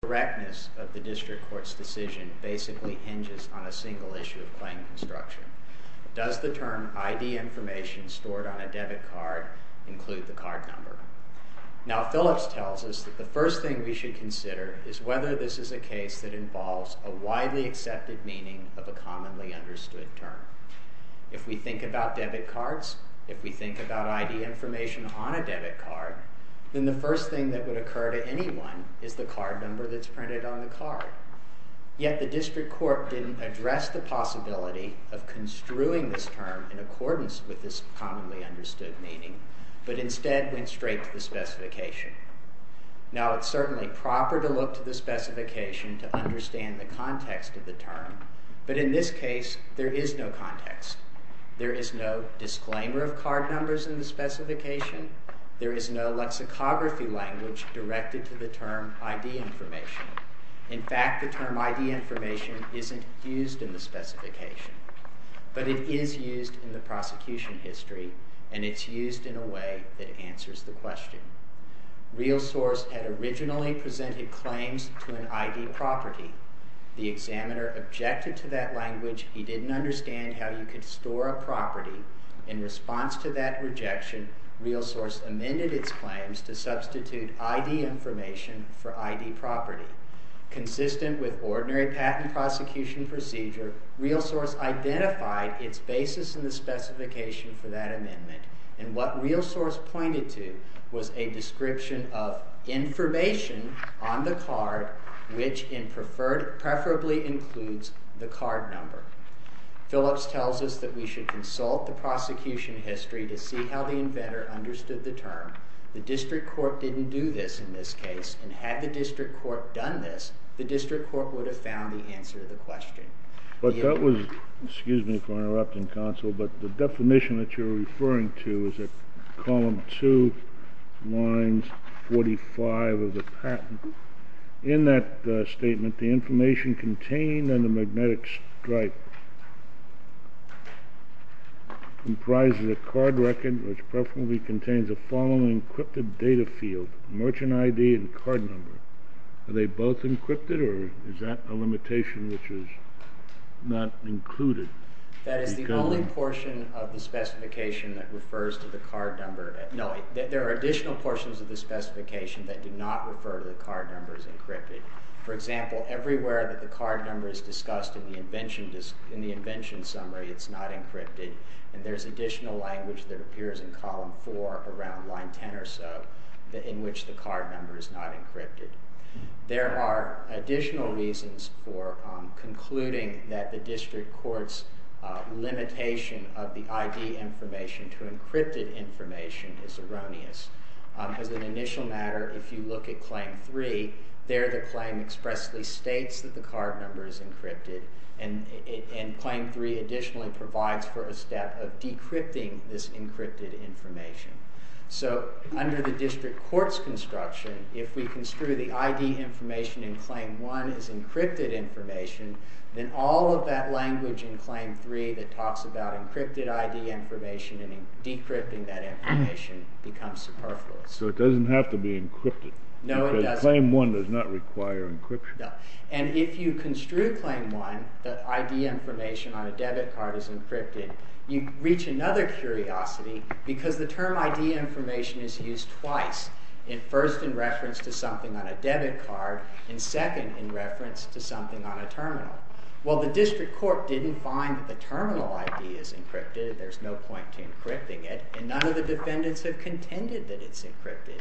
The correctness of the district court's decision basically hinges on a single issue of claim construction. Does the term ID information stored on a debit card include the card number? Now Phillips tells us that the first thing we should consider is whether this is a case that involves a widely accepted meaning of a commonly understood term. If we think about debit cards, if we think about ID information on a debit card, then the first thing that would occur to anyone is the card number that's printed on the card. Yet the district court didn't address the possibility of construing this term in accordance with this commonly understood meaning, but instead went straight to the specification. Now it's certainly proper to look to the specification to understand the context of the term, but in this case there is no context. There is no disclaimer of card numbers in the specification. There is no lexicography language directed to the term ID information. In fact, the term ID information isn't used in the specification, but it is used in the prosecution history and it's used in a way that answers the question. Realsource had originally presented claims to an ID property. The examiner objected to that language. He didn't understand how you could store a property. In response to that rejection, Realsource amended its claims to substitute ID information for ID property. Consistent with ordinary patent prosecution procedure, Realsource identified its basis in the specification for that amendment, and what Realsource pointed to was a description of information on the card which preferably includes the card number. Phillips tells us that we should consult the prosecution history to see how the inventor understood the term. The district court didn't do this in this case, and had the district court done this, the district court would have found the answer to the question. But that was, excuse me for interrupting, counsel, but the definition that you're referring to is at column 2, lines 45 of the patent. In that statement, the information contained in the magnetic stripe comprises a card record which preferably contains the following encrypted data field, merchant ID and card number. Are they both encrypted or is that a limitation which is not included? That is the only portion of the specification that refers to the card number. No, there are additional portions of the specification that do not refer to the card numbers encrypted. For example, everywhere that the card number is discussed in the invention summary, it's not encrypted, and there's additional language that appears in column 4 around line 10 or so in which the card number is not encrypted. There are additional reasons for concluding that the district court's limitation of the ID information to encrypted information is erroneous. As an initial matter, if you look at claim 3, there the claim expressly states that the card number is encrypted, and claim 3 additionally provides for a step of decrypting this encrypted information. So under the district court's construction, if we construe the ID information in claim 1 as encrypted information, then all of that language in claim 3 that talks about encrypted ID information and decrypting that information becomes superfluous. So it doesn't have to be encrypted? No, it doesn't. Because claim 1 does not require encryption? No. And if you construe claim 1 that ID information on a debit card is encrypted, you reach another curiosity because the term ID information is used twice. First in reference to something on a debit card, and second in reference to something on a terminal. Well, the district court didn't find that the terminal ID is encrypted. There's no point to encrypting it, and none of the defendants have contended that it's encrypted.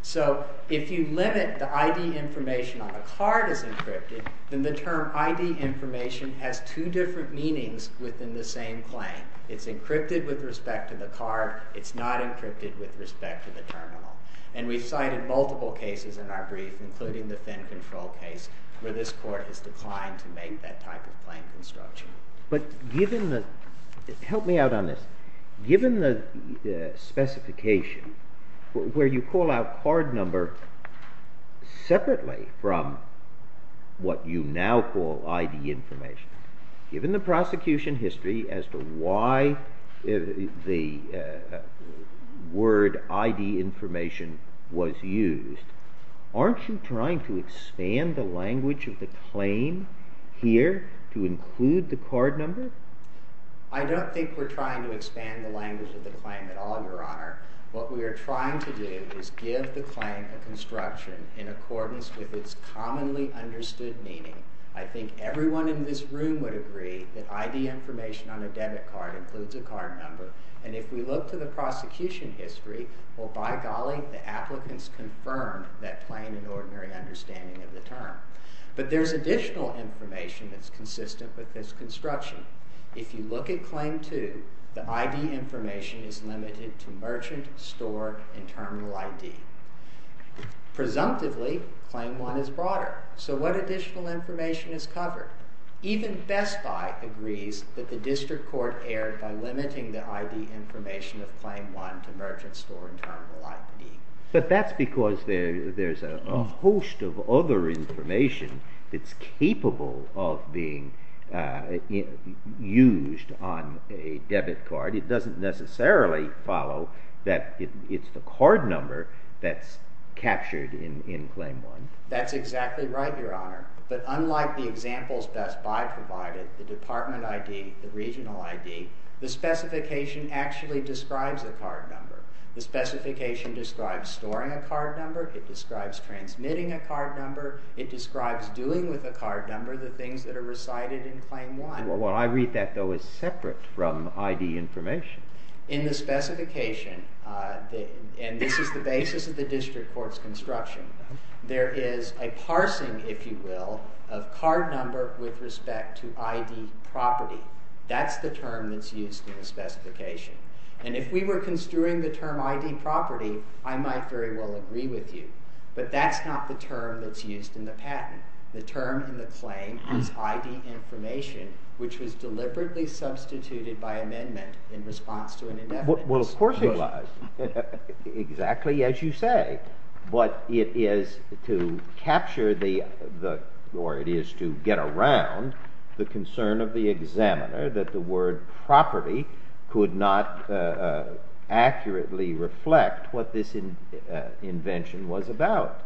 So if you limit the ID information on a card as encrypted, then the term ID information has two different meanings within the same claim. It's encrypted with respect to the card. It's not encrypted with respect to the terminal. And we've cited multiple cases in our brief, including the Fenn Control case, where this court has declined to make that type of claim construction. But given the—help me out on this. Given the specification where you call out card number separately from what you now call ID information, given the prosecution history as to why the word ID information was used, aren't you trying to expand the language of the claim here to include the card number? I don't think we're trying to expand the language of the claim at all, Your Honor. What we are trying to do is give the claim a construction in accordance with its commonly understood meaning. I think everyone in this room would agree that ID information on a debit card includes a card number. And if we look to the prosecution history, well, by golly, the applicants confirmed that plain and ordinary understanding of the term. But there's additional information that's consistent with this construction. If you look at Claim 2, the ID information is limited to merchant, store, and terminal ID. Presumptively, Claim 1 is broader. So what additional information is covered? Even Best Buy agrees that the district court erred by limiting the ID information of Claim 1 to merchant, store, and terminal ID. But that's because there's a host of other information that's capable of being used on a debit card. It doesn't necessarily follow that it's the card number that's captured in Claim 1. That's exactly right, Your Honor. But unlike the examples Best Buy provided, the department ID, the regional ID, the specification actually describes a card number. The specification describes storing a card number. It describes transmitting a card number. It describes doing with a card number the things that are recited in Claim 1. What I read that, though, is separate from ID information. In the specification, and this is the basis of the district court's construction, there is a parsing, if you will, of card number with respect to ID property. That's the term that's used in the specification. And if we were construing the term ID property, I might very well agree with you. But that's not the term that's used in the patent. The term in the claim is ID information, which was deliberately substituted by amendment in response to an indefinite constitution. Well, of course it was, exactly as you say. But it is to capture the—or it is to get around the concern of the examiner that the word property could not accurately reflect what this invention was about.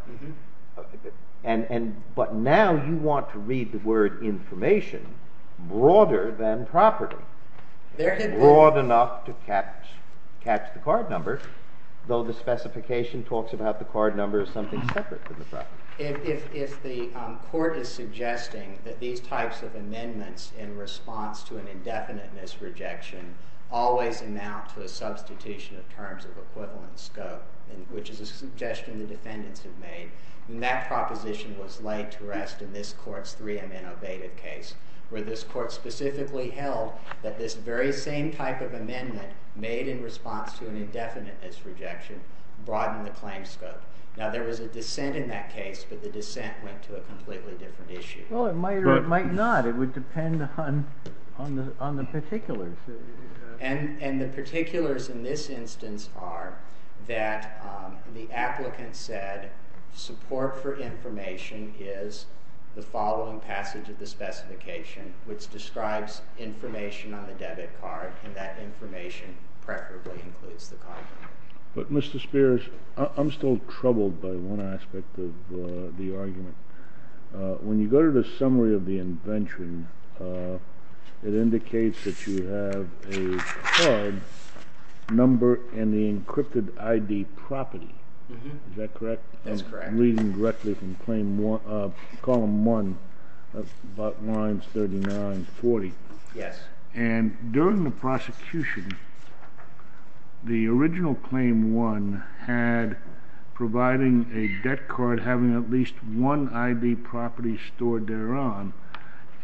But now you want to read the word information broader than property, broad enough to catch the card number, though the specification talks about the card number as something separate from the property. If the court is suggesting that these types of amendments in response to an indefinite misrejection always amount to a substitution of terms of equivalent scope, which is a suggestion the defendants have made, then that proposition was laid to rest in this court's 3M innovative case, where this court specifically held that this very same type of amendment made in response to an indefinite misrejection broadened the claim scope. Now, there was a dissent in that case, but the dissent went to a completely different issue. Well, it might or it might not. It would depend on the particulars. And the particulars in this instance are that the applicant said support for information is the following passage of the specification, which describes information on the debit card, and that information preferably includes the card number. But Mr. Spears, I'm still troubled by one aspect of the argument. When you go to the summary of the invention, it indicates that you have a card number in the encrypted ID property. Is that correct? That's correct. And reading directly from Column 1, lines 39, 40. Yes. And during the prosecution, the original Claim 1 had providing a debt card having at least one ID property stored thereon.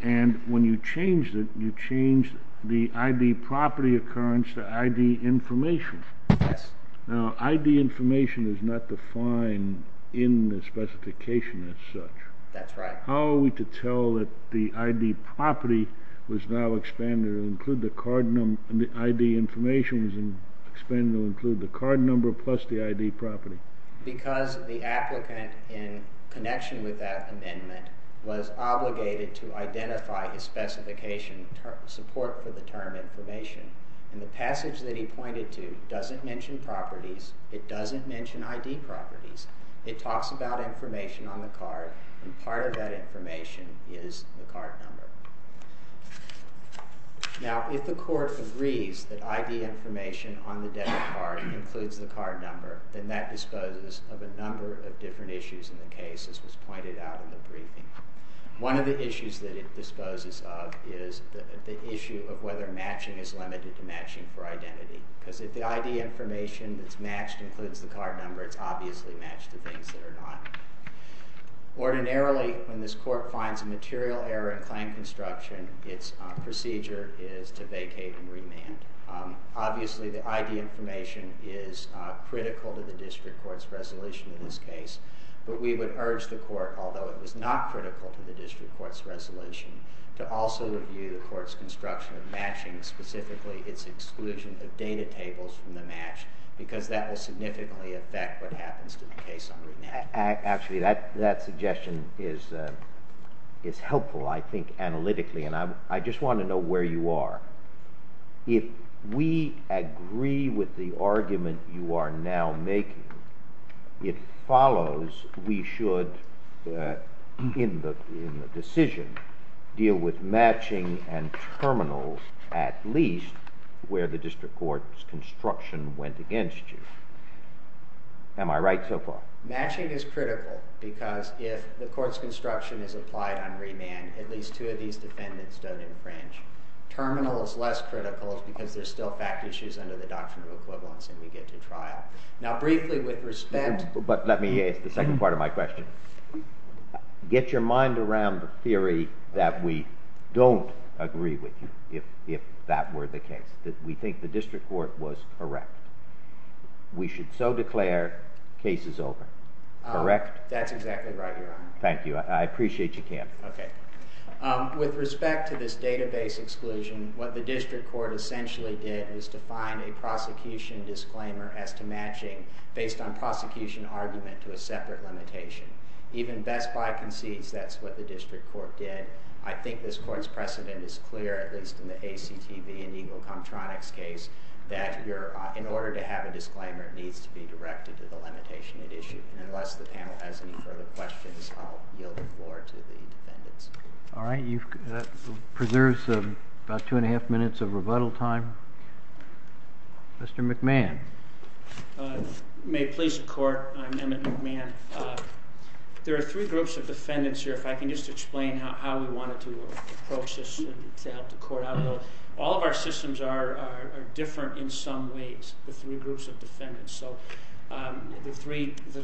And when you changed it, you changed the ID property occurrence to ID information. Yes. Now, ID information is not defined in the specification as such. That's right. How are we to tell that the ID information was expanded to include the card number plus the ID property? Because the applicant, in connection with that amendment, was obligated to identify his specification support for the term information. And the passage that he pointed to doesn't mention properties. It doesn't mention ID properties. It talks about information on the card. And part of that information is the card number. Now, if the court agrees that ID information on the debt card includes the card number, then that disposes of a number of different issues in the case, as was pointed out in the briefing. One of the issues that it disposes of is the issue of whether matching is limited to matching for identity. Because if the ID information that's matched includes the card number, it's obviously matched to things that are not. Ordinarily, when this court finds a material error in claim construction, its procedure is to vacate and remand. Obviously, the ID information is critical to the district court's resolution in this case. But we would urge the court, although it was not critical to the district court's resolution, to also review the court's construction of matching, specifically its exclusion of data tables from the match, because that will significantly affect what happens to the case on remand. Actually, that suggestion is helpful, I think, analytically. And I just want to know where you are. If we agree with the argument you are now making, it follows we should, in the decision, deal with matching and terminals at least where the district court's construction went against you. Am I right so far? Matching is critical, because if the court's construction is applied on remand, at least two of these defendants don't infringe. Terminal is less critical, because there's still fact issues under the doctrine of equivalence, and we get to trial. Now, briefly, with respect— But let me ask the second part of my question. Get your mind around the theory that we don't agree with you, if that were the case, that we think the district court was correct. We should so declare case is over. Correct? That's exactly right, Your Honor. Thank you. I appreciate you canting. With respect to this database exclusion, what the district court essentially did was define a prosecution disclaimer as to matching, based on prosecution argument, to a separate limitation. Even Best Buy concedes that's what the district court did. I think this court's precedent is clear, at least in the ACTV and Eagle Comptronics case, that in order to have a disclaimer, it needs to be directed to the limitation at issue. Unless the panel has any further questions, I'll yield the floor to the defendants. All right. That preserves about two and a half minutes of rebuttal time. Mr. McMahon. May it please the Court, I'm Emmett McMahon. There are three groups of defendants here. If I can just explain how we wanted to approach this and to help the Court out a little. All of our systems are different in some ways, the three groups of defendants. So the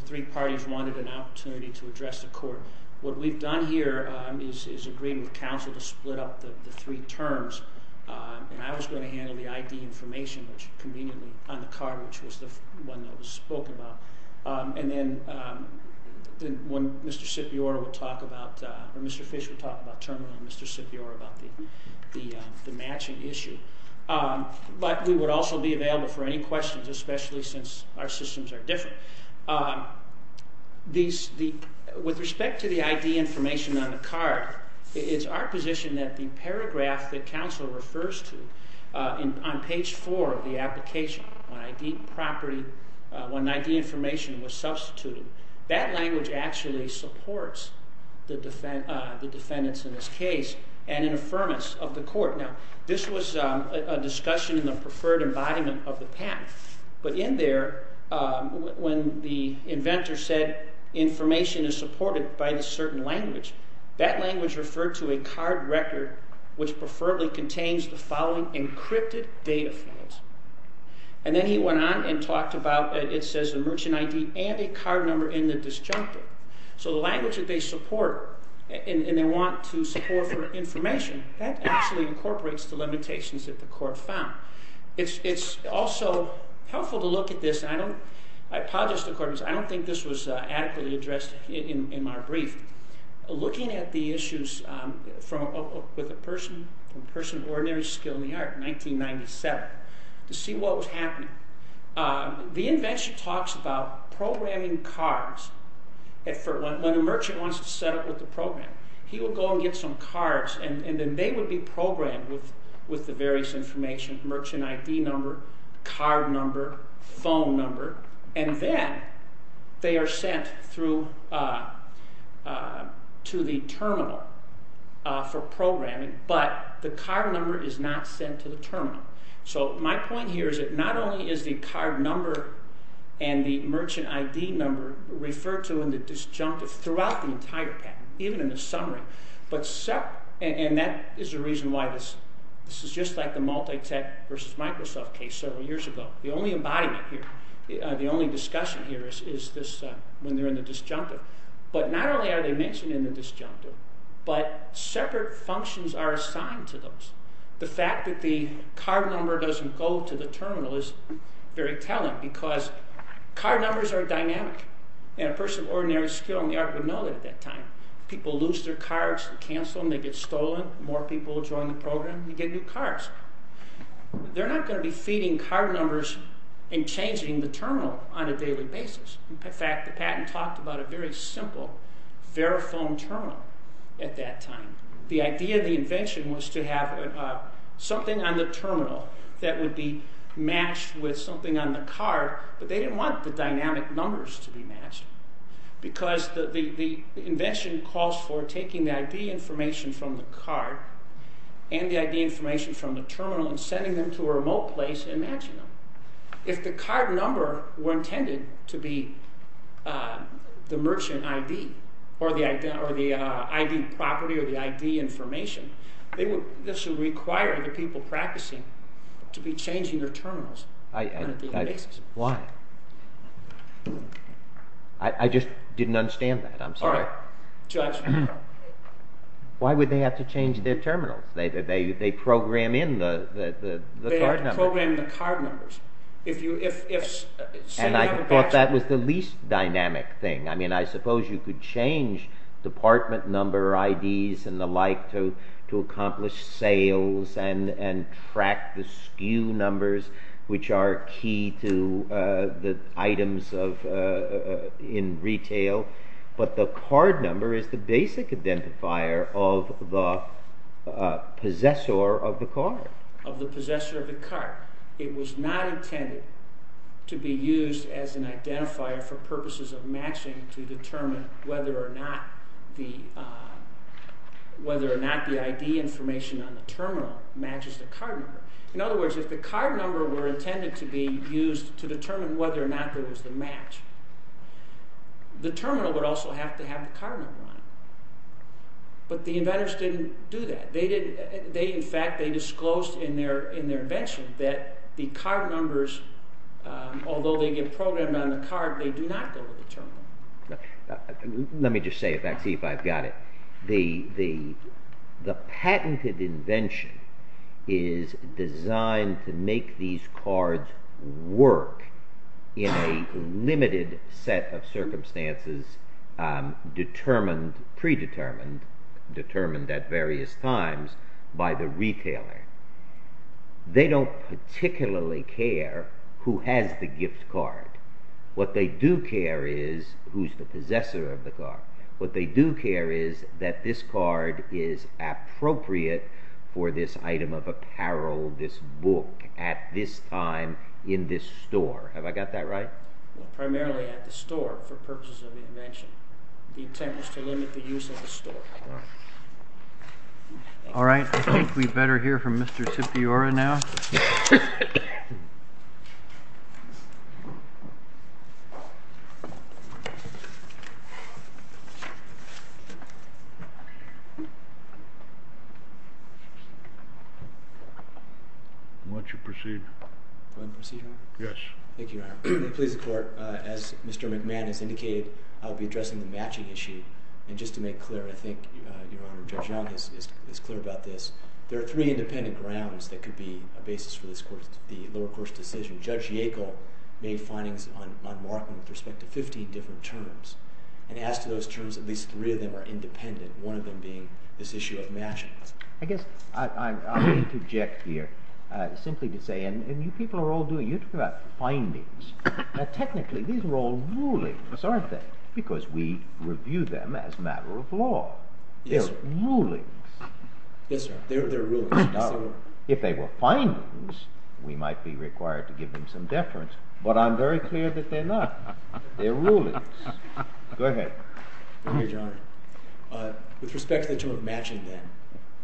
three parties wanted an opportunity to address the Court. What we've done here is agreed with counsel to split up the three terms. And I was going to handle the ID information, which conveniently, on the card, which was the one that was spoken about. And then when Mr. Scipiora would talk about, or Mr. Fish would talk about terminal and Mr. Scipiora about the matching issue. But we would also be available for any questions, especially since our systems are different. With respect to the ID information on the card, it's our position that the paragraph that counsel refers to on page four of the application, when ID information was substituted, that language actually supports the defendants in this case and an affirmance of the Court. Now, this was a discussion in the preferred embodiment of the patent. But in there, when the inventor said information is supported by a certain language, that language referred to a card record, which preferably contains the following encrypted data files. And then he went on and talked about, it says a merchant ID and a card number in the disjunctive. So the language that they support, and they want to support for information, that actually incorporates the limitations that the Court found. It's also helpful to look at this, and I apologize to the Court, because I don't think this was adequately addressed in my brief. Looking at the issues with a person of ordinary skill in the art, 1997, to see what was happening. The invention talks about programming cards. When a merchant wants to set up with a program, he will go and get some cards, and then they will be programmed with the various information, merchant ID number, card number, phone number, and then they are sent to the terminal for programming, but the card number is not sent to the terminal. So my point here is that not only is the card number and the merchant ID number referred to in the disjunctive throughout the entire patent, even in the summary, and that is the reason why this is just like the multi-tech versus Microsoft case several years ago. The only embodiment here, the only discussion here is when they are in the disjunctive. But not only are they mentioned in the disjunctive, but separate functions are assigned to those. The fact that the card number doesn't go to the terminal is very telling, because card numbers are dynamic, and a person of ordinary skill in the art would know that at that time. People lose their cards, they cancel them, they get stolen, more people join the program, you get new cards. They are not going to be feeding card numbers and changing the terminal on a daily basis. In fact, the patent talked about a very simple Verifone terminal at that time. The idea of the invention was to have something on the terminal that would be matched with something on the card, but they didn't want the dynamic numbers to be matched, because the invention calls for taking the ID information from the card and the ID information from the terminal and sending them to a remote place and matching them. If the card number were intended to be the merchant ID or the ID property or the ID information, this would require the people practicing to be changing their terminals on a daily basis. Why? I just didn't understand that. I'm sorry. All right. Judge. Why would they have to change their terminals? They program in the card numbers. And I thought that was the least dynamic thing. I mean, I suppose you could change department number IDs and the like to accomplish sales and track the SKU numbers, which are key to the items in retail, but the card number is the basic identifier of the possessor of the card. It was not intended to be used as an identifier for purposes of matching to determine whether or not the ID information on the terminal matches the card number. In other words, if the card number were intended to be used to determine whether or not there was the match, the terminal would also have to have the card number on it, but the inventors didn't do that. In fact, they disclosed in their invention that the card numbers, although they get programmed on the card, they do not go to the terminal. Let me just say it back, see if I've got it. The patented invention is designed to make these cards work in a limited set of circumstances predetermined, determined at various times by the retailer. They don't particularly care who has the gift card. What they do care is who's the possessor of the card. What they do care is that this card is appropriate for this item of apparel, this book, at this time, in this store. Have I got that right? Primarily at the store for purposes of invention. The intent was to limit the use of the store. All right. I think we'd better hear from Mr. Cipiora now. Why don't you proceed? Do I proceed, Your Honor? Yes. Thank you, Your Honor. Please, the Court, as Mr. McMahon has indicated, I'll be addressing the matching issue. And just to make clear, and I think Your Honor, Judge Young is clear about this, there are three independent grounds that could be a basis for the lower court's decision. Judge Yackel made findings on Markman with respect to 15 different terms. And as to those terms, at least three of them are independent, one of them being this issue of matching. I guess I'll interject here, simply to say, and you people are all doing it. You're talking about findings. Now, technically, these are all rulings, aren't they? Because we review them as a matter of law. They're rulings. Yes, sir. They're rulings. If they were findings, we might be required to give them some deference. But I'm very clear that they're not. They're rulings. Go ahead. Thank you, Your Honor. With respect to the term matching,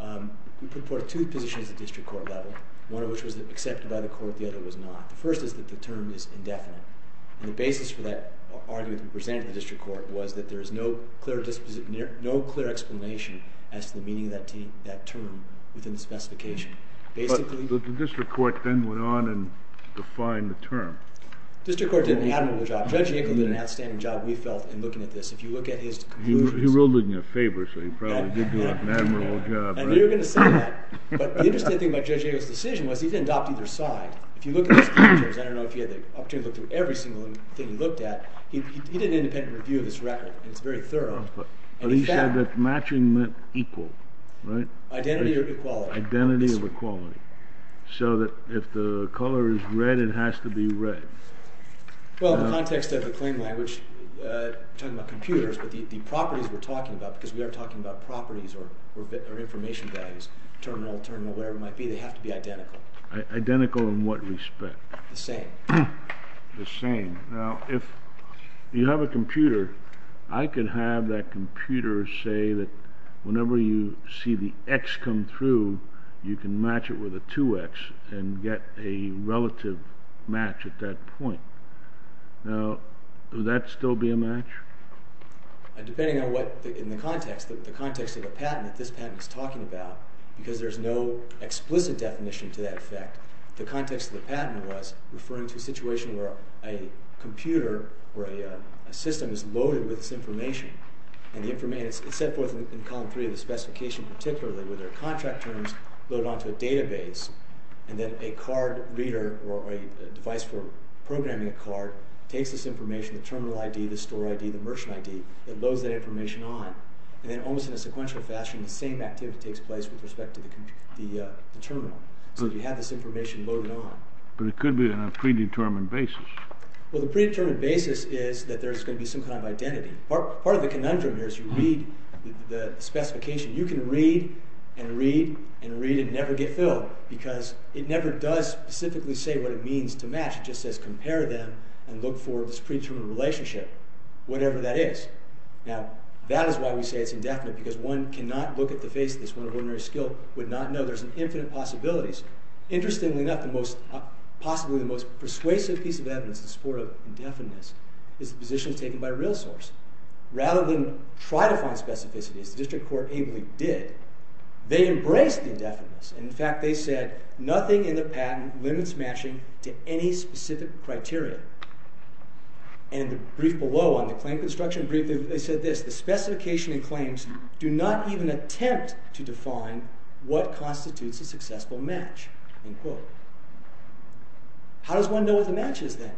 then, we put forth two positions at district court level, one of which was accepted by the court, the other was not. The first is that the term is indefinite. And the basis for that argument that we presented to the district court was that there is no clear explanation as to the meaning of that term within the specification. But the district court then went on and defined the term. District court did an admirable job. Judge Yackel did an outstanding job, we felt, in looking at this. If you look at his conclusions. He ruled it in your favor, so he probably did do an admirable job. And you're going to say that. But the interesting thing about Judge Yackel's decision was he didn't adopt either side. If you look at his conclusions, I don't know if he had the opportunity to look through every single thing he looked at. He did an independent review of this record, and it's very thorough. But he said that matching meant equal, right? Identity or equality. Identity or equality. So that if the color is red, it has to be red. Well, in the context of the claim language, we're talking about computers, but the properties we're talking about, because we are talking about properties or information values, terminal, terminal, whatever it might be, they have to be identical. Identical in what respect? The same. The same. Now, if you have a computer, I could have that computer say that whenever you see the X come through, you can match it with a 2X and get a relative match at that point. Now, would that still be a match? Depending on what, in the context, the context of the patent that this patent is talking about, because there's no explicit definition to that effect, the context of the patent was referring to a situation where a computer or a system is loaded with this information, and it's set forth in column 3 of the specification particularly, where there are contract terms loaded onto a database, and then a card reader or a device for programming a card takes this information, the terminal ID, the store ID, the merchant ID, and loads that information on. And then almost in a sequential fashion, the same activity takes place with respect to the terminal. So you have this information loaded on. But it could be on a predetermined basis. Well, the predetermined basis is that there's going to be some kind of identity. Part of the conundrum here is you read the specification. You can read and read and read and never get filled, because it never does specifically say what it means to match. It just says compare them and look for this predetermined relationship, whatever that is. Now, that is why we say it's indefinite, because one cannot look at the face of this. One of ordinary skill would not know. There's infinite possibilities. Interestingly enough, possibly the most persuasive piece of evidence in support of indefiniteness is the position taken by a real source. Rather than try to find specificity, as the district court ably did, they embraced indefiniteness. In fact, they said, nothing in the patent limits matching to any specific criteria. In the brief below on the claim construction brief, they said this, the specification and claims do not even attempt to define what constitutes a successful match. How does one know what the match is then?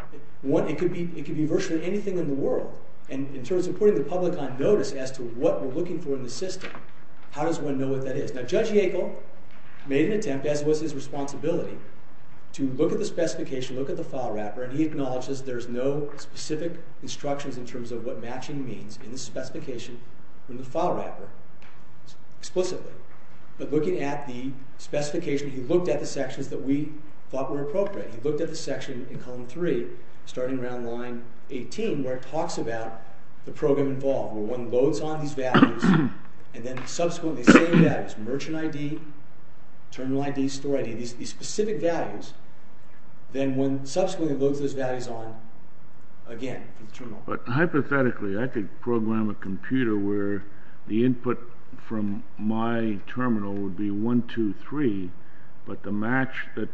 It could be virtually anything in the world. In terms of putting the public on notice as to what we're looking for in the system, how does one know what that is? Now, Judge Yackel made an attempt, as was his responsibility, to look at the specification, look at the file wrapper, and he acknowledges there's no specific instructions in terms of what matching means in the specification from the file wrapper explicitly. But looking at the specification, he looked at the sections that we thought were appropriate. He looked at the section in column three, starting around line 18, where it talks about the program involved, where one loads on these values and then subsequently save that as merchant ID, terminal ID, store ID, these specific values, then one subsequently loads those values on again for the terminal. But hypothetically, I could program a computer where the input from my terminal would be 123, but the match that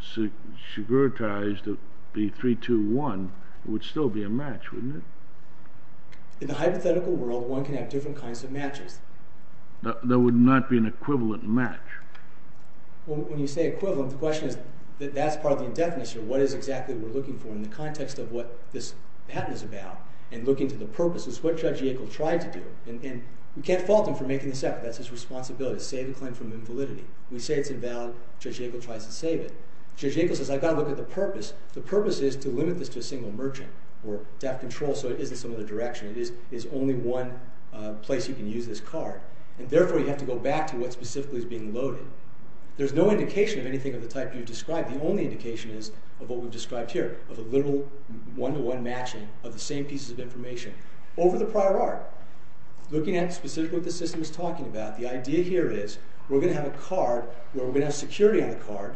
sugar-ties to be 321 would still be a match, wouldn't it? In the hypothetical world, one can have different kinds of matches. There would not be an equivalent match. Well, when you say equivalent, the question is that that's part of the indefinite, so what is exactly we're looking for in the context of what this patent is about and looking to the purpose is what Judge Yackel tried to do. And we can't fault him for making this up. That's his responsibility to save the claim from invalidity. We say it's invalid. Judge Yackel tries to save it. Judge Yackel says, I've got to look at the purpose. The purpose is to limit this to a single merchant or to have control so it is in some other direction. It is only one place you can use this card, and therefore you have to go back to what specifically is being loaded. There's no indication of anything of the type you've described. The only indication is of what we've described here, of a literal one-to-one matching of the same pieces of information over the prior art. Looking at specifically what the system is talking about, the idea here is we're going to have a card where we're going to have security on the card,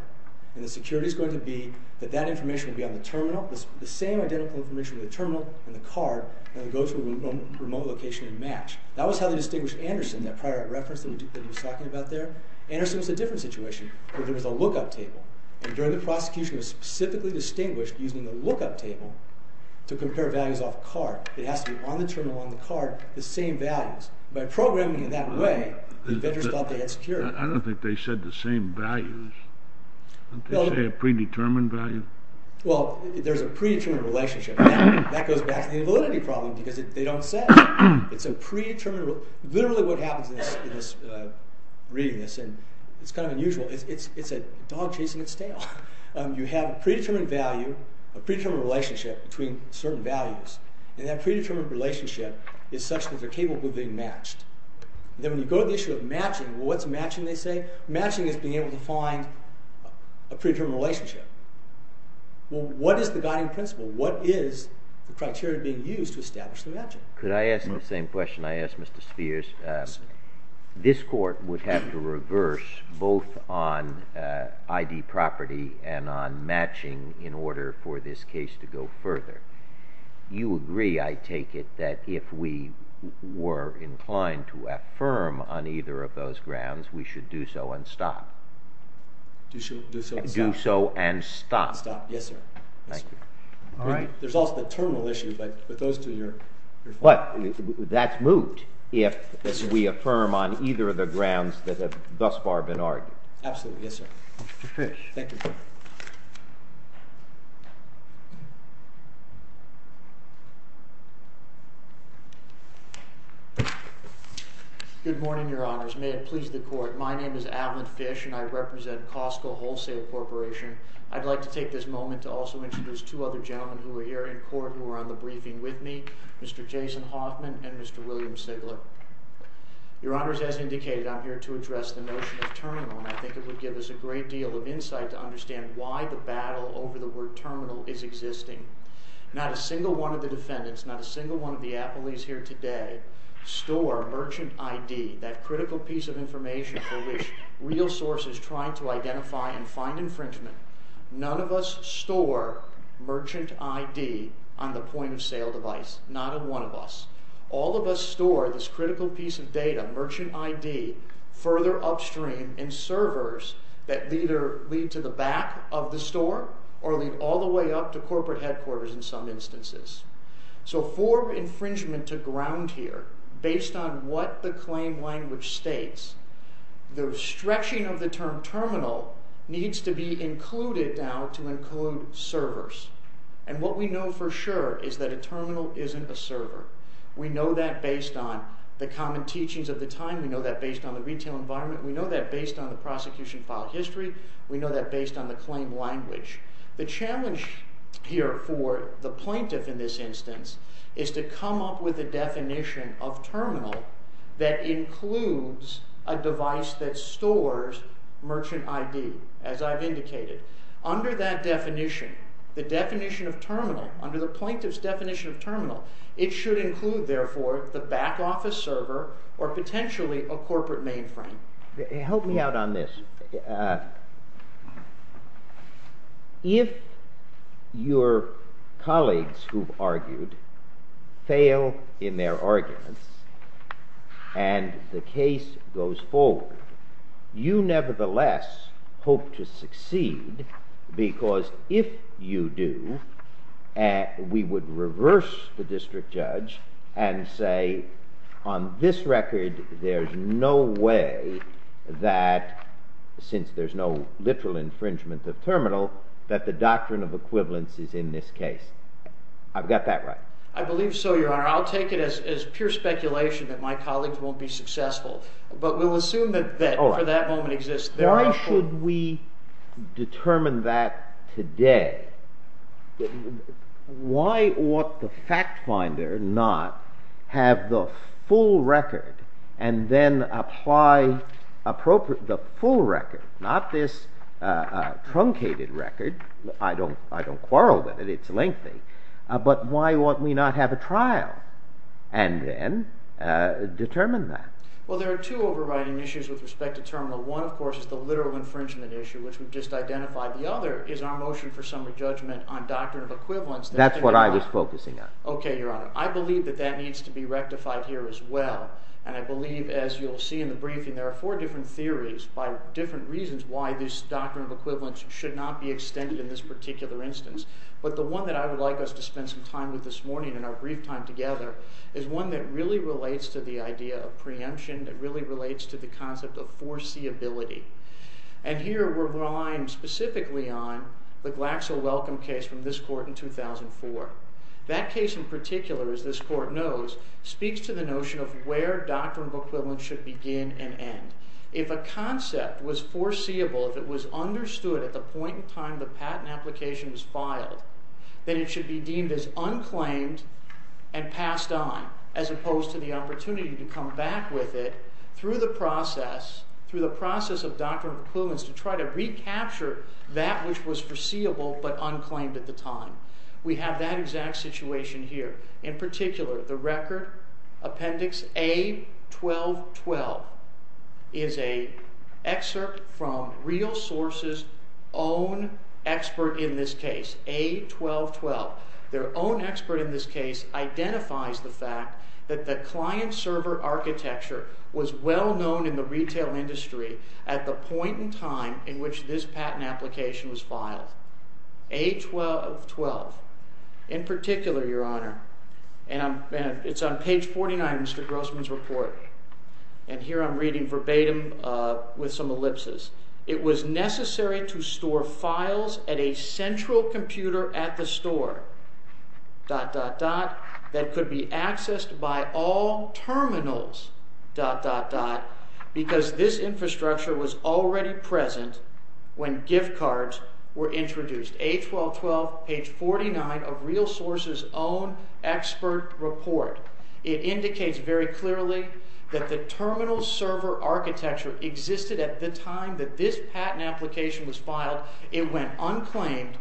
and the security is going to be that that information will be on the terminal, the same identical information with the terminal and the card, and it goes to a remote location to match. That was how they distinguished Anderson, that prior art reference that he was talking about there. Anderson was in a different situation where there was a look-up table, and during the prosecution it was specifically distinguished using the look-up table to compare values off card. It has to be on the terminal, on the card, the same values. By programming it that way, the vendors thought they had security. I don't think they said the same values. Didn't they say a predetermined value? Well, there's a predetermined relationship. That goes back to the invalidity problem, because they don't say it. It's a predetermined... Literally what happens in reading this, and it's kind of unusual, it's a dog chasing its tail. You have a predetermined value, a predetermined relationship between certain values, and that predetermined relationship is such that they're capable of being matched. Then when you go to the issue of matching, well, what's matching, they say? Matching is being able to find a predetermined relationship. Well, what is the guiding principle? What is the criteria being used to establish the matching? Could I ask the same question I asked Mr. Spears? Yes. This court would have to reverse both on ID property and on matching in order for this case to go further. You agree, I take it, that if we were inclined to affirm on either of those grounds, we should do so and stop? Do so and stop. Do so and stop. Stop, yes, sir. Thank you. There's also the terminal issue, but with those two, you're fine. But that's moot if we affirm on either of the grounds that have thus far been argued. Absolutely, yes, sir. Mr. Fish. Thank you. Good morning, Your Honors. May it please the court. My name is Avalyn Fish, and I represent Costco Wholesale Corporation. I'd like to take this moment to also introduce two other gentlemen who are here in court who are on the briefing with me, Mr. Jason Hoffman and Mr. William Sigler. Your Honors, as indicated, I'm here to address the notion of terminal, and I think it would give us a great deal of insight to understand why the battle over the word terminal is existing. Not a single one of the defendants, not a single one of the appellees here today, store merchant ID, that critical piece of information for which real sources try to identify and find infringement. None of us store merchant ID on the point-of-sale device. Not one of us. All of us store this critical piece of data, merchant ID, further upstream in servers that either lead to the back of the store or lead all the way up to corporate headquarters in some instances. So for infringement to ground here, based on what the claim language states, the stretching of the term terminal needs to be included now to include servers. And what we know for sure is that a terminal isn't a server. We know that based on the common teachings of the time. We know that based on the retail environment. We know that based on the prosecution file history. We know that based on the claim language. The challenge here for the plaintiff in this instance is to come up with a definition of terminal that includes a device that stores merchant ID, as I've indicated. Under that definition, the definition of terminal, under the plaintiff's definition of terminal, it should include, therefore, the back office server or potentially a corporate mainframe. Help me out on this. If your colleagues who've argued fail in their arguments and the case goes forward, you nevertheless hope to succeed because if you do, we would reverse the district judge and say, on this record, there's no way that, since there's no literal infringement of terminal, that the doctrine of equivalence is in this case. I've got that right. I believe so, Your Honor. I'll take it as pure speculation that my colleagues won't be successful. But we'll assume that for that moment exists. Why should we determine that today? Why ought the fact finder not have the full record and then apply the full record, not this truncated record? I don't quarrel with it. It's lengthy. But why ought we not have a trial and then determine that? Well, there are two overriding issues with respect to terminal. One, of course, is the literal infringement issue, which we've just identified. The other is our motion for summary judgment on doctrine of equivalence. That's what I was focusing on. Okay, Your Honor. I believe that that needs to be rectified here as well. And I believe, as you'll see in the briefing, there are four different theories by different reasons why this doctrine of equivalence should not be extended in this particular instance. But the one that I would like us to spend some time with this morning and our brief time together is one that really relates to the idea of preemption, that really relates to the concept of foreseeability. And here we're relying specifically on the Glaxo Welcome case from this court in 2004. That case in particular, as this court knows, speaks to the notion of where doctrine of equivalence should begin and end. If a concept was foreseeable, if it was understood at the point in time the patent application was filed, then it should be deemed as unclaimed and passed on, as opposed to the opportunity to come back with it through the process, of doctrine of equivalence, to try to recapture that which was foreseeable but unclaimed at the time. We have that exact situation here. In particular, the Record Appendix A. 1212 is an excerpt from RealSource's own expert in this case, A. 1212. Their own expert in this case identifies the fact that the client-server architecture was well known in the retail industry at the point in time in which this patent application was filed. A. 1212. In particular, Your Honor, and it's on page 49 of Mr. Grossman's report, and here I'm reading verbatim with some ellipses, it was necessary to store files at a central computer at the store, dot, dot, dot, that could be accessed by all terminals, dot, dot, dot, because this infrastructure was already present when gift cards were introduced. A. 1212, page 49 of RealSource's own expert report. It indicates very clearly that the terminal-server architecture existed at the time that this patent application was filed. It went unclaimed,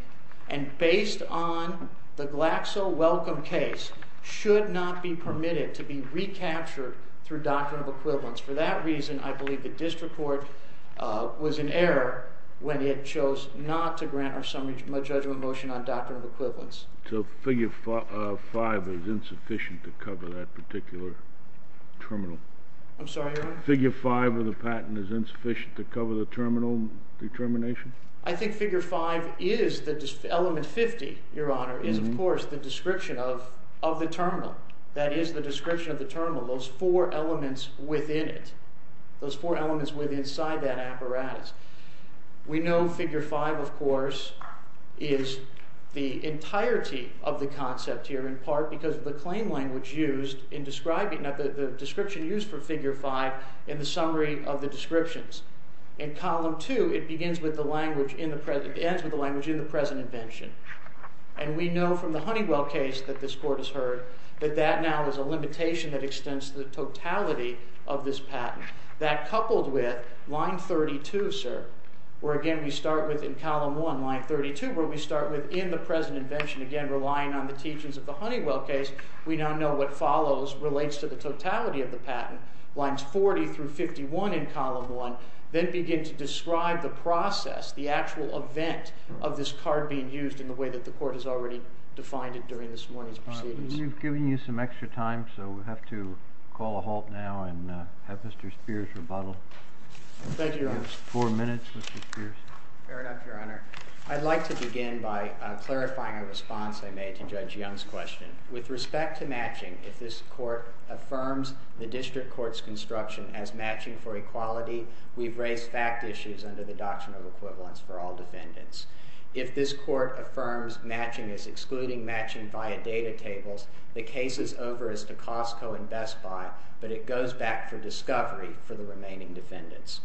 and based on the Glaxo Welcome case, should not be permitted to be recaptured through doctrine of equivalence. For that reason, I believe the district court was in error when it chose not to grant our summary judgment motion on doctrine of equivalence. So figure 5 is insufficient to cover that particular terminal? I'm sorry, Your Honor? Figure 5 of the patent is insufficient to cover the terminal determination? I think figure 5 is the element 50, Your Honor, is, of course, the description of the terminal. That is the description of the terminal, those four elements within it, those four elements inside that apparatus. We know figure 5, of course, is the entirety of the concept here, in part because of the claim language used in describing it, the description used for figure 5 in the summary of the descriptions. In column 2, it ends with the language in the present invention. And we know from the Honeywell case that this court has heard that that now is a limitation that extends to the totality of this patent. That, coupled with line 32, sir, where, again, we start with in column 1, line 32, where we start with in the present invention, again, relying on the teachings of the Honeywell case, we now know what follows, relates to the totality of the patent, lines 40 through 51 in column 1, then begin to describe the process, the actual event of this card being used in the way that the court has already defined it during this morning's proceedings. We've given you some extra time, so we'll have to call a halt now and have Mr. Spears rebuttal. Thank you, Your Honor. You have four minutes, Mr. Spears. Fair enough, Your Honor. I'd like to begin by clarifying a response I made to Judge Young's question. With respect to matching, if this court affirms the district court's construction as matching for equality, we've raised fact issues under the Doctrine of Equivalence for all defendants. If this court affirms matching as excluding matching via data tables, the case is over as to Costco and Best Buy, but it goes back for discovery for the remaining defendants.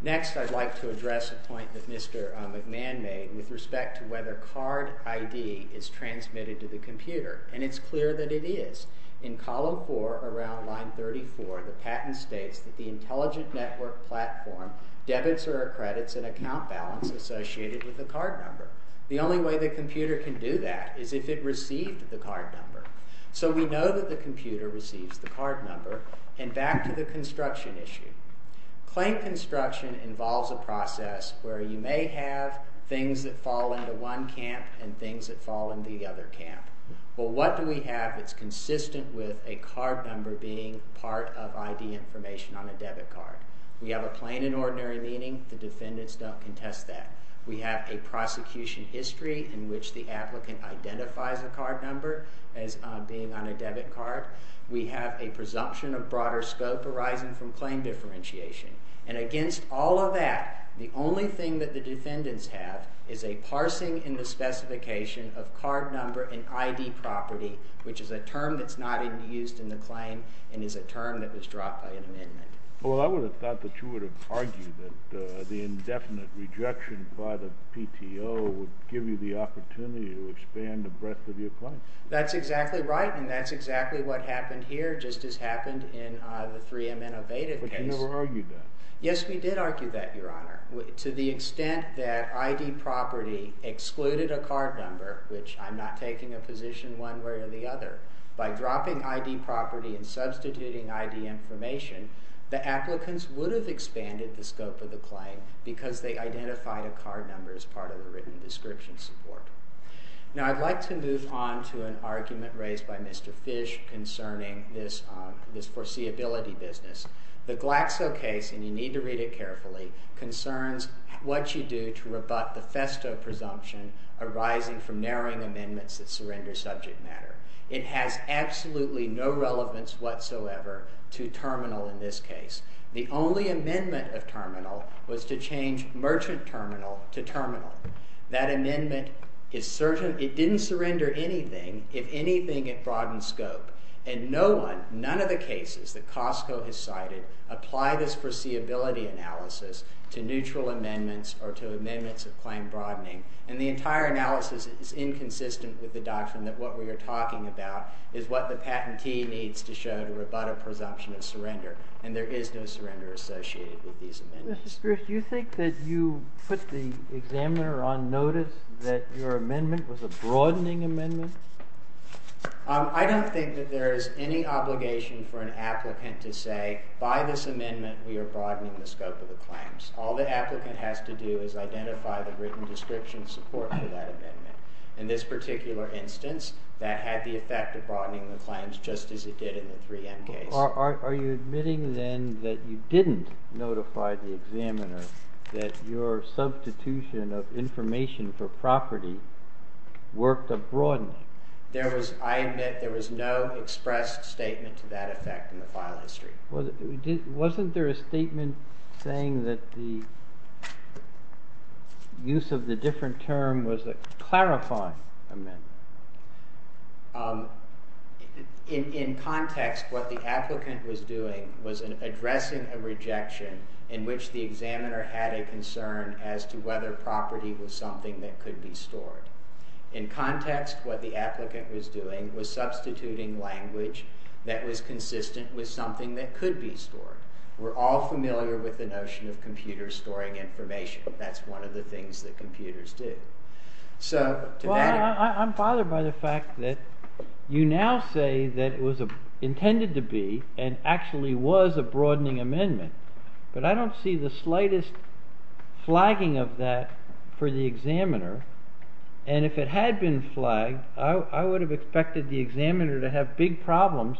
Next, I'd like to address a point that Mr. McMahon made with respect to whether card ID is transmitted to the computer, and it's clear that it is. In column 4, around line 34, the patent states that the intelligent network platform debits or accredits an account balance associated with the card number. The only way the computer can do that is if it received the card number. So we know that the computer receives the card number, and back to the construction issue. Claim construction involves a process where you may have things that fall into one camp and things that fall into the other camp. Well, what do we have that's consistent with a card number being part of ID information on a debit card? We have a plain and ordinary meaning. The defendants don't contest that. We have a prosecution history in which the applicant identifies a card number as being on a debit card. We have a presumption of broader scope arising from claim differentiation. And against all of that, the only thing that the defendants have is a parsing in the specification of card number and ID property, which is a term that's not used in the claim and is a term that was dropped by an amendment. Well, I would have thought that you would have argued that the indefinite rejection by the PTO would give you the opportunity to expand the breadth of your claim. That's exactly right, and that's exactly what happened here, just as happened in the 3M Innovative case. But you never argued that. Yes, we did argue that, Your Honor. To the extent that ID property excluded a card number, which I'm not taking a position one way or the other, by dropping ID property and substituting ID information, the applicants would have expanded the scope of the claim because they identified a card number as part of the written description support. Now, I'd like to move on to an argument raised by Mr. Fish concerning this foreseeability business. The Glaxo case, and you need to read it carefully, concerns what you do to rebut the Festo presumption arising from narrowing amendments that surrender subject matter. It has absolutely no relevance whatsoever to terminal in this case. The only amendment of terminal was to change merchant terminal to terminal. That amendment didn't surrender anything, if anything, it broadened scope. And none of the cases that Costco has cited apply this foreseeability analysis to neutral amendments or to amendments of claim broadening. And the entire analysis is inconsistent with the doctrine that what we are talking about is what the patentee needs to show to rebut a presumption of surrender. And there is no surrender associated with these amendments. Do you think that you put the examiner on notice that your amendment was a broadening amendment? I don't think that there is any obligation for an applicant to say, by this amendment we are broadening the scope of the claims. All the applicant has to do is identify the written description support for that amendment. In this particular instance, that had the effect of broadening the claims just as it did in the 3M case. Are you admitting then that you didn't notify the examiner that your substitution of information for property worked a broadening? I admit there was no expressed statement to that effect in the file history. Wasn't there a statement saying that the use of the different term was a clarifying amendment? In context, what the applicant was doing was addressing a rejection in which the examiner had a concern as to whether property was something that could be stored. In context, what the applicant was doing was substituting language that was consistent with something that could be stored. We are all familiar with the notion of computer storing information. That's one of the things that computers do. I'm bothered by the fact that you now say that it was intended to be and actually was a broadening amendment, but I don't see the slightest flagging of that for the examiner. If it had been flagged, I would have expected the examiner to have big problems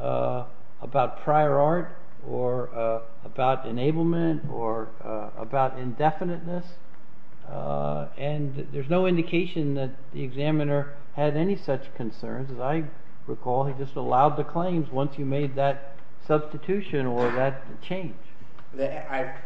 about prior art or about enablement or about indefiniteness. And there's no indication that the examiner had any such concerns. As I recall, he just allowed the claims once you made that substitution or that change.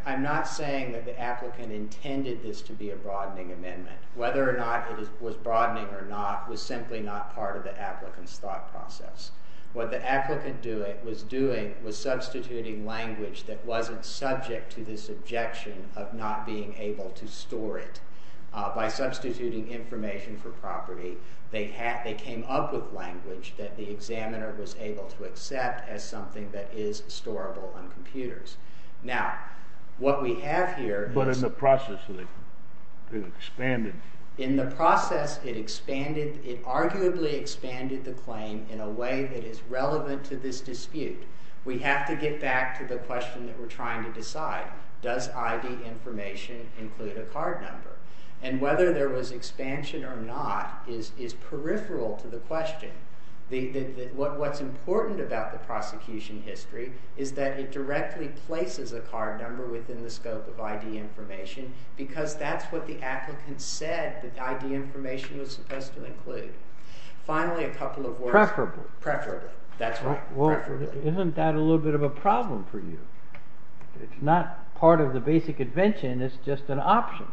I'm not saying that the applicant intended this to be a broadening amendment. Whether or not it was broadening or not was simply not part of the applicant's thought process. What the applicant was doing was substituting language that wasn't subject to this objection of not being able to store it. By substituting information for property, they came up with language that the examiner was able to accept as something that is storable on computers. Now, what we have here... But in the process, it expanded. In the process, it expanded. It arguably expanded the claim in a way that is relevant to this dispute. We have to get back to the question that we're trying to decide. Does ID information include a card number? And whether there was expansion or not is peripheral to the question. What's important about the prosecution history is that it directly places a card number within the scope of ID information because that's what the applicant said that ID information was supposed to include. Finally, a couple of words... Isn't that a little bit of a problem for you? It's not part of the basic invention. It's just an option.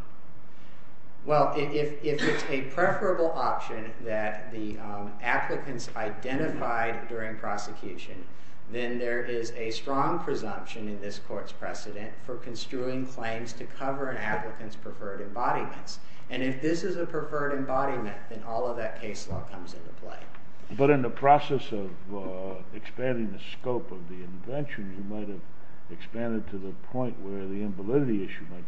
Well, if it's a preferable option that the applicants identified during prosecution, then there is a strong presumption in this court's precedent for construing claims to cover an applicant's preferred embodiments. And if this is a preferred embodiment, then all of that case law comes into play. But in the process of expanding the scope of the invention, you might have expanded to the point where the invalidity issue might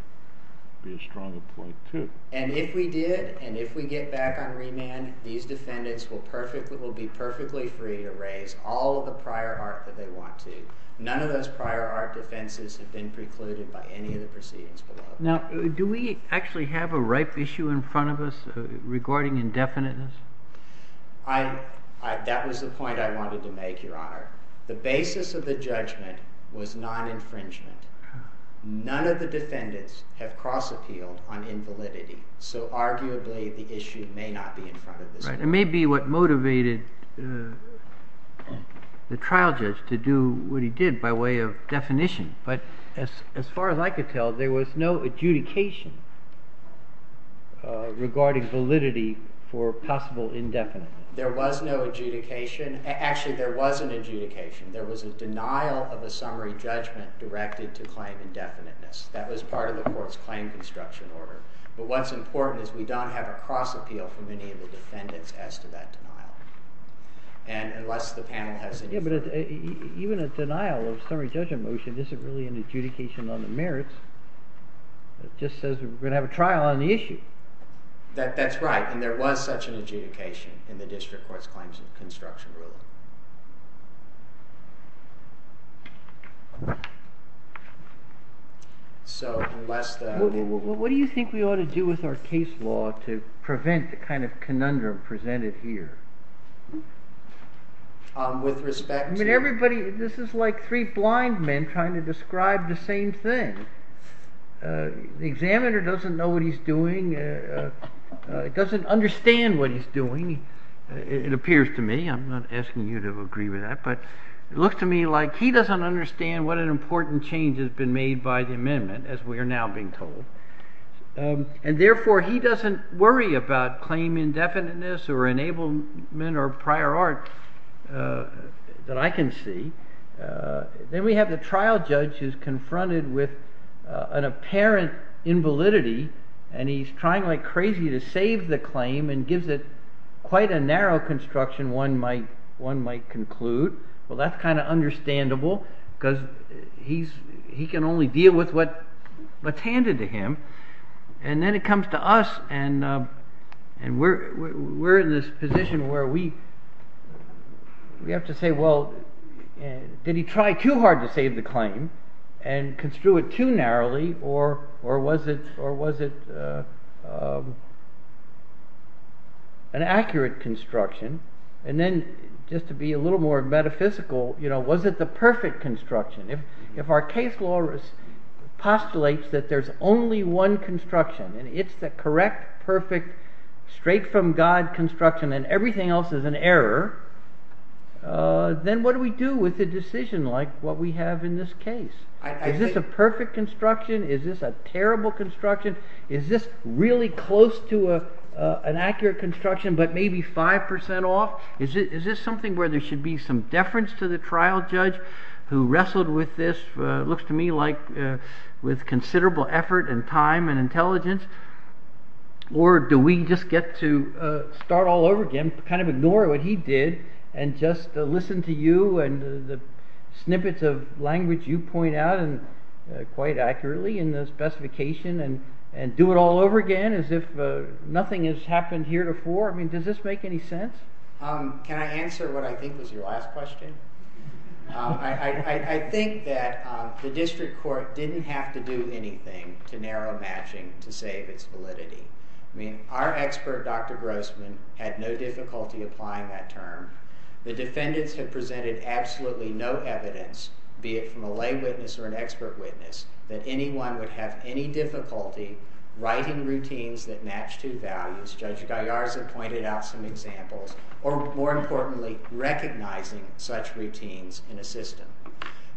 be a stronger point, too. And if we did, and if we get back on remand, these defendants will be perfectly free to raise all of the prior art that they want to. None of those prior art defenses have been precluded by any of the proceedings below. Now, do we actually have a ripe issue in front of us regarding indefiniteness? That was the point I wanted to make, Your Honor. The basis of the judgment was non-infringement. None of the defendants have cross-appealed on invalidity. So arguably, the issue may not be in front of us. It may be what motivated the trial judge to do what he did by way of definition. But as far as I could tell, there was no adjudication regarding validity for possible indefiniteness. There was no adjudication. Actually, there was an adjudication. There was a denial of a summary judgment directed to claim indefiniteness. That was part of the court's claim construction order. But what's important is we don't have a cross-appeal from any of the defendants as to that denial. And unless the panel has any... Yeah, but even a denial of a summary judgment motion isn't really an adjudication on the merits. It just says we're going to have a trial on the issue. That's right, and there was such an adjudication in the district court's claims of construction rule. So unless the... What do you think we ought to do with our case law to prevent the kind of conundrum presented here? With respect to... I mean, everybody... This is like three blind men trying to describe the same thing. The examiner doesn't know what he's doing. He doesn't understand what he's doing, it appears to me. I'm not asking you to agree with that. But it looks to me like he doesn't understand what an important change has been made by the amendment, as we are now being told. And therefore, he doesn't worry about claim indefiniteness or enablement or prior art that I can see. Then we have the trial judge who's confronted with an apparent invalidity, and he's trying like crazy to save the claim and gives it quite a narrow construction, one might conclude. Well, that's kind of understandable because he can only deal with what's handed to him. And then it comes to us, and we're in this position where we have to say, well, did he try too hard to save the claim and construe it too narrowly, or was it an accurate construction? And then, just to be a little more metaphysical, was it the perfect construction? If our case law postulates that there's only one construction and it's the correct, perfect, straight-from-God construction and everything else is an error, then what do we do with a decision like what we have in this case? Is this a perfect construction? Is this a terrible construction? Is this really close to an accurate construction but maybe 5% off? Is this something where there should be some deference to the trial judge who wrestled with this, looks to me like, with considerable effort and time and intelligence? Or do we just get to start all over again, kind of ignore what he did, and just listen to you and the snippets of language you point out quite accurately in the specification and do it all over again as if nothing has happened heretofore? Does this make any sense? Can I answer what I think was your last question? I think that the district court didn't have to do anything to narrow matching to save its validity. Our expert, Dr. Grossman, had no difficulty applying that term. The defendants have presented absolutely no evidence, be it from a lay witness or an expert witness, that anyone would have any difficulty writing routines that match two values. Judge Gallarza pointed out some examples. Or, more importantly, recognizing such routines in a system.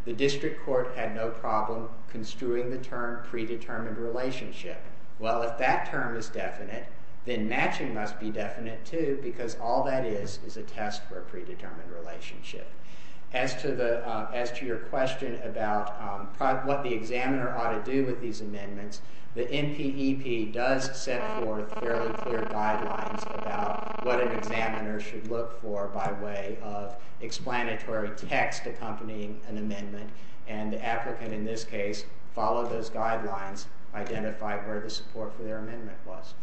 The district court had no problem construing the term predetermined relationship. Well, if that term is definite, then matching must be definite too, because all that is is a test for a predetermined relationship. As to your question about what the examiner ought to do with these amendments, the NPEP does set forth fairly clear guidelines by way of explanatory text accompanying an amendment. And the applicant, in this case, followed those guidelines, identified where the support for their amendment was.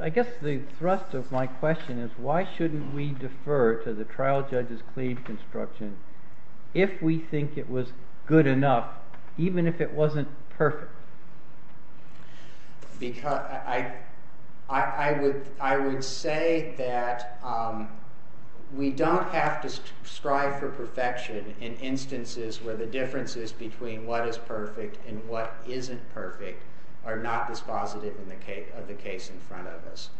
I guess the thrust of my question is, why shouldn't we defer to the trial judge's claim construction if we think it was good enough, even if it wasn't perfect? I would say that we don't have to strive for perfection in instances where the differences between what is perfect and what isn't perfect are not dispositive of the case in front of us.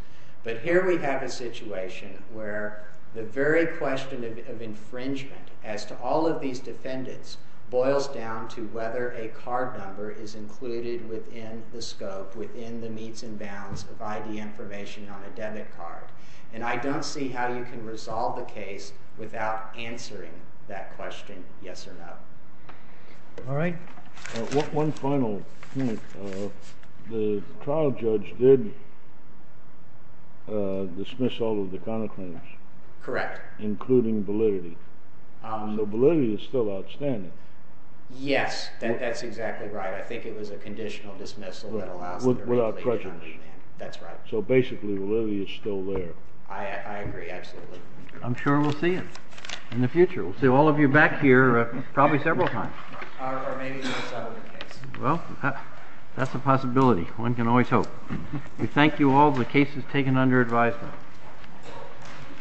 But here we have a situation where the very question of infringement as to all of these defendants boils down to whether a card number is included within the scope, within the meets and bounds of ID information on a debit card. And I don't see how you can resolve the case without answering that question, yes or no. All right. One final point. The trial judge did dismiss all of the counterclaims. Correct. Including validity. So validity is still outstanding. Yes, that's exactly right. I think it was a conditional dismissal that allows for validation on demand. That's right. So basically validity is still there. I agree, absolutely. I'm sure we'll see it in the future. We'll see all of you back here probably several times. Or maybe not settle the case. Well, that's a possibility. One can always hope. We thank you all. The case is taken under advisement.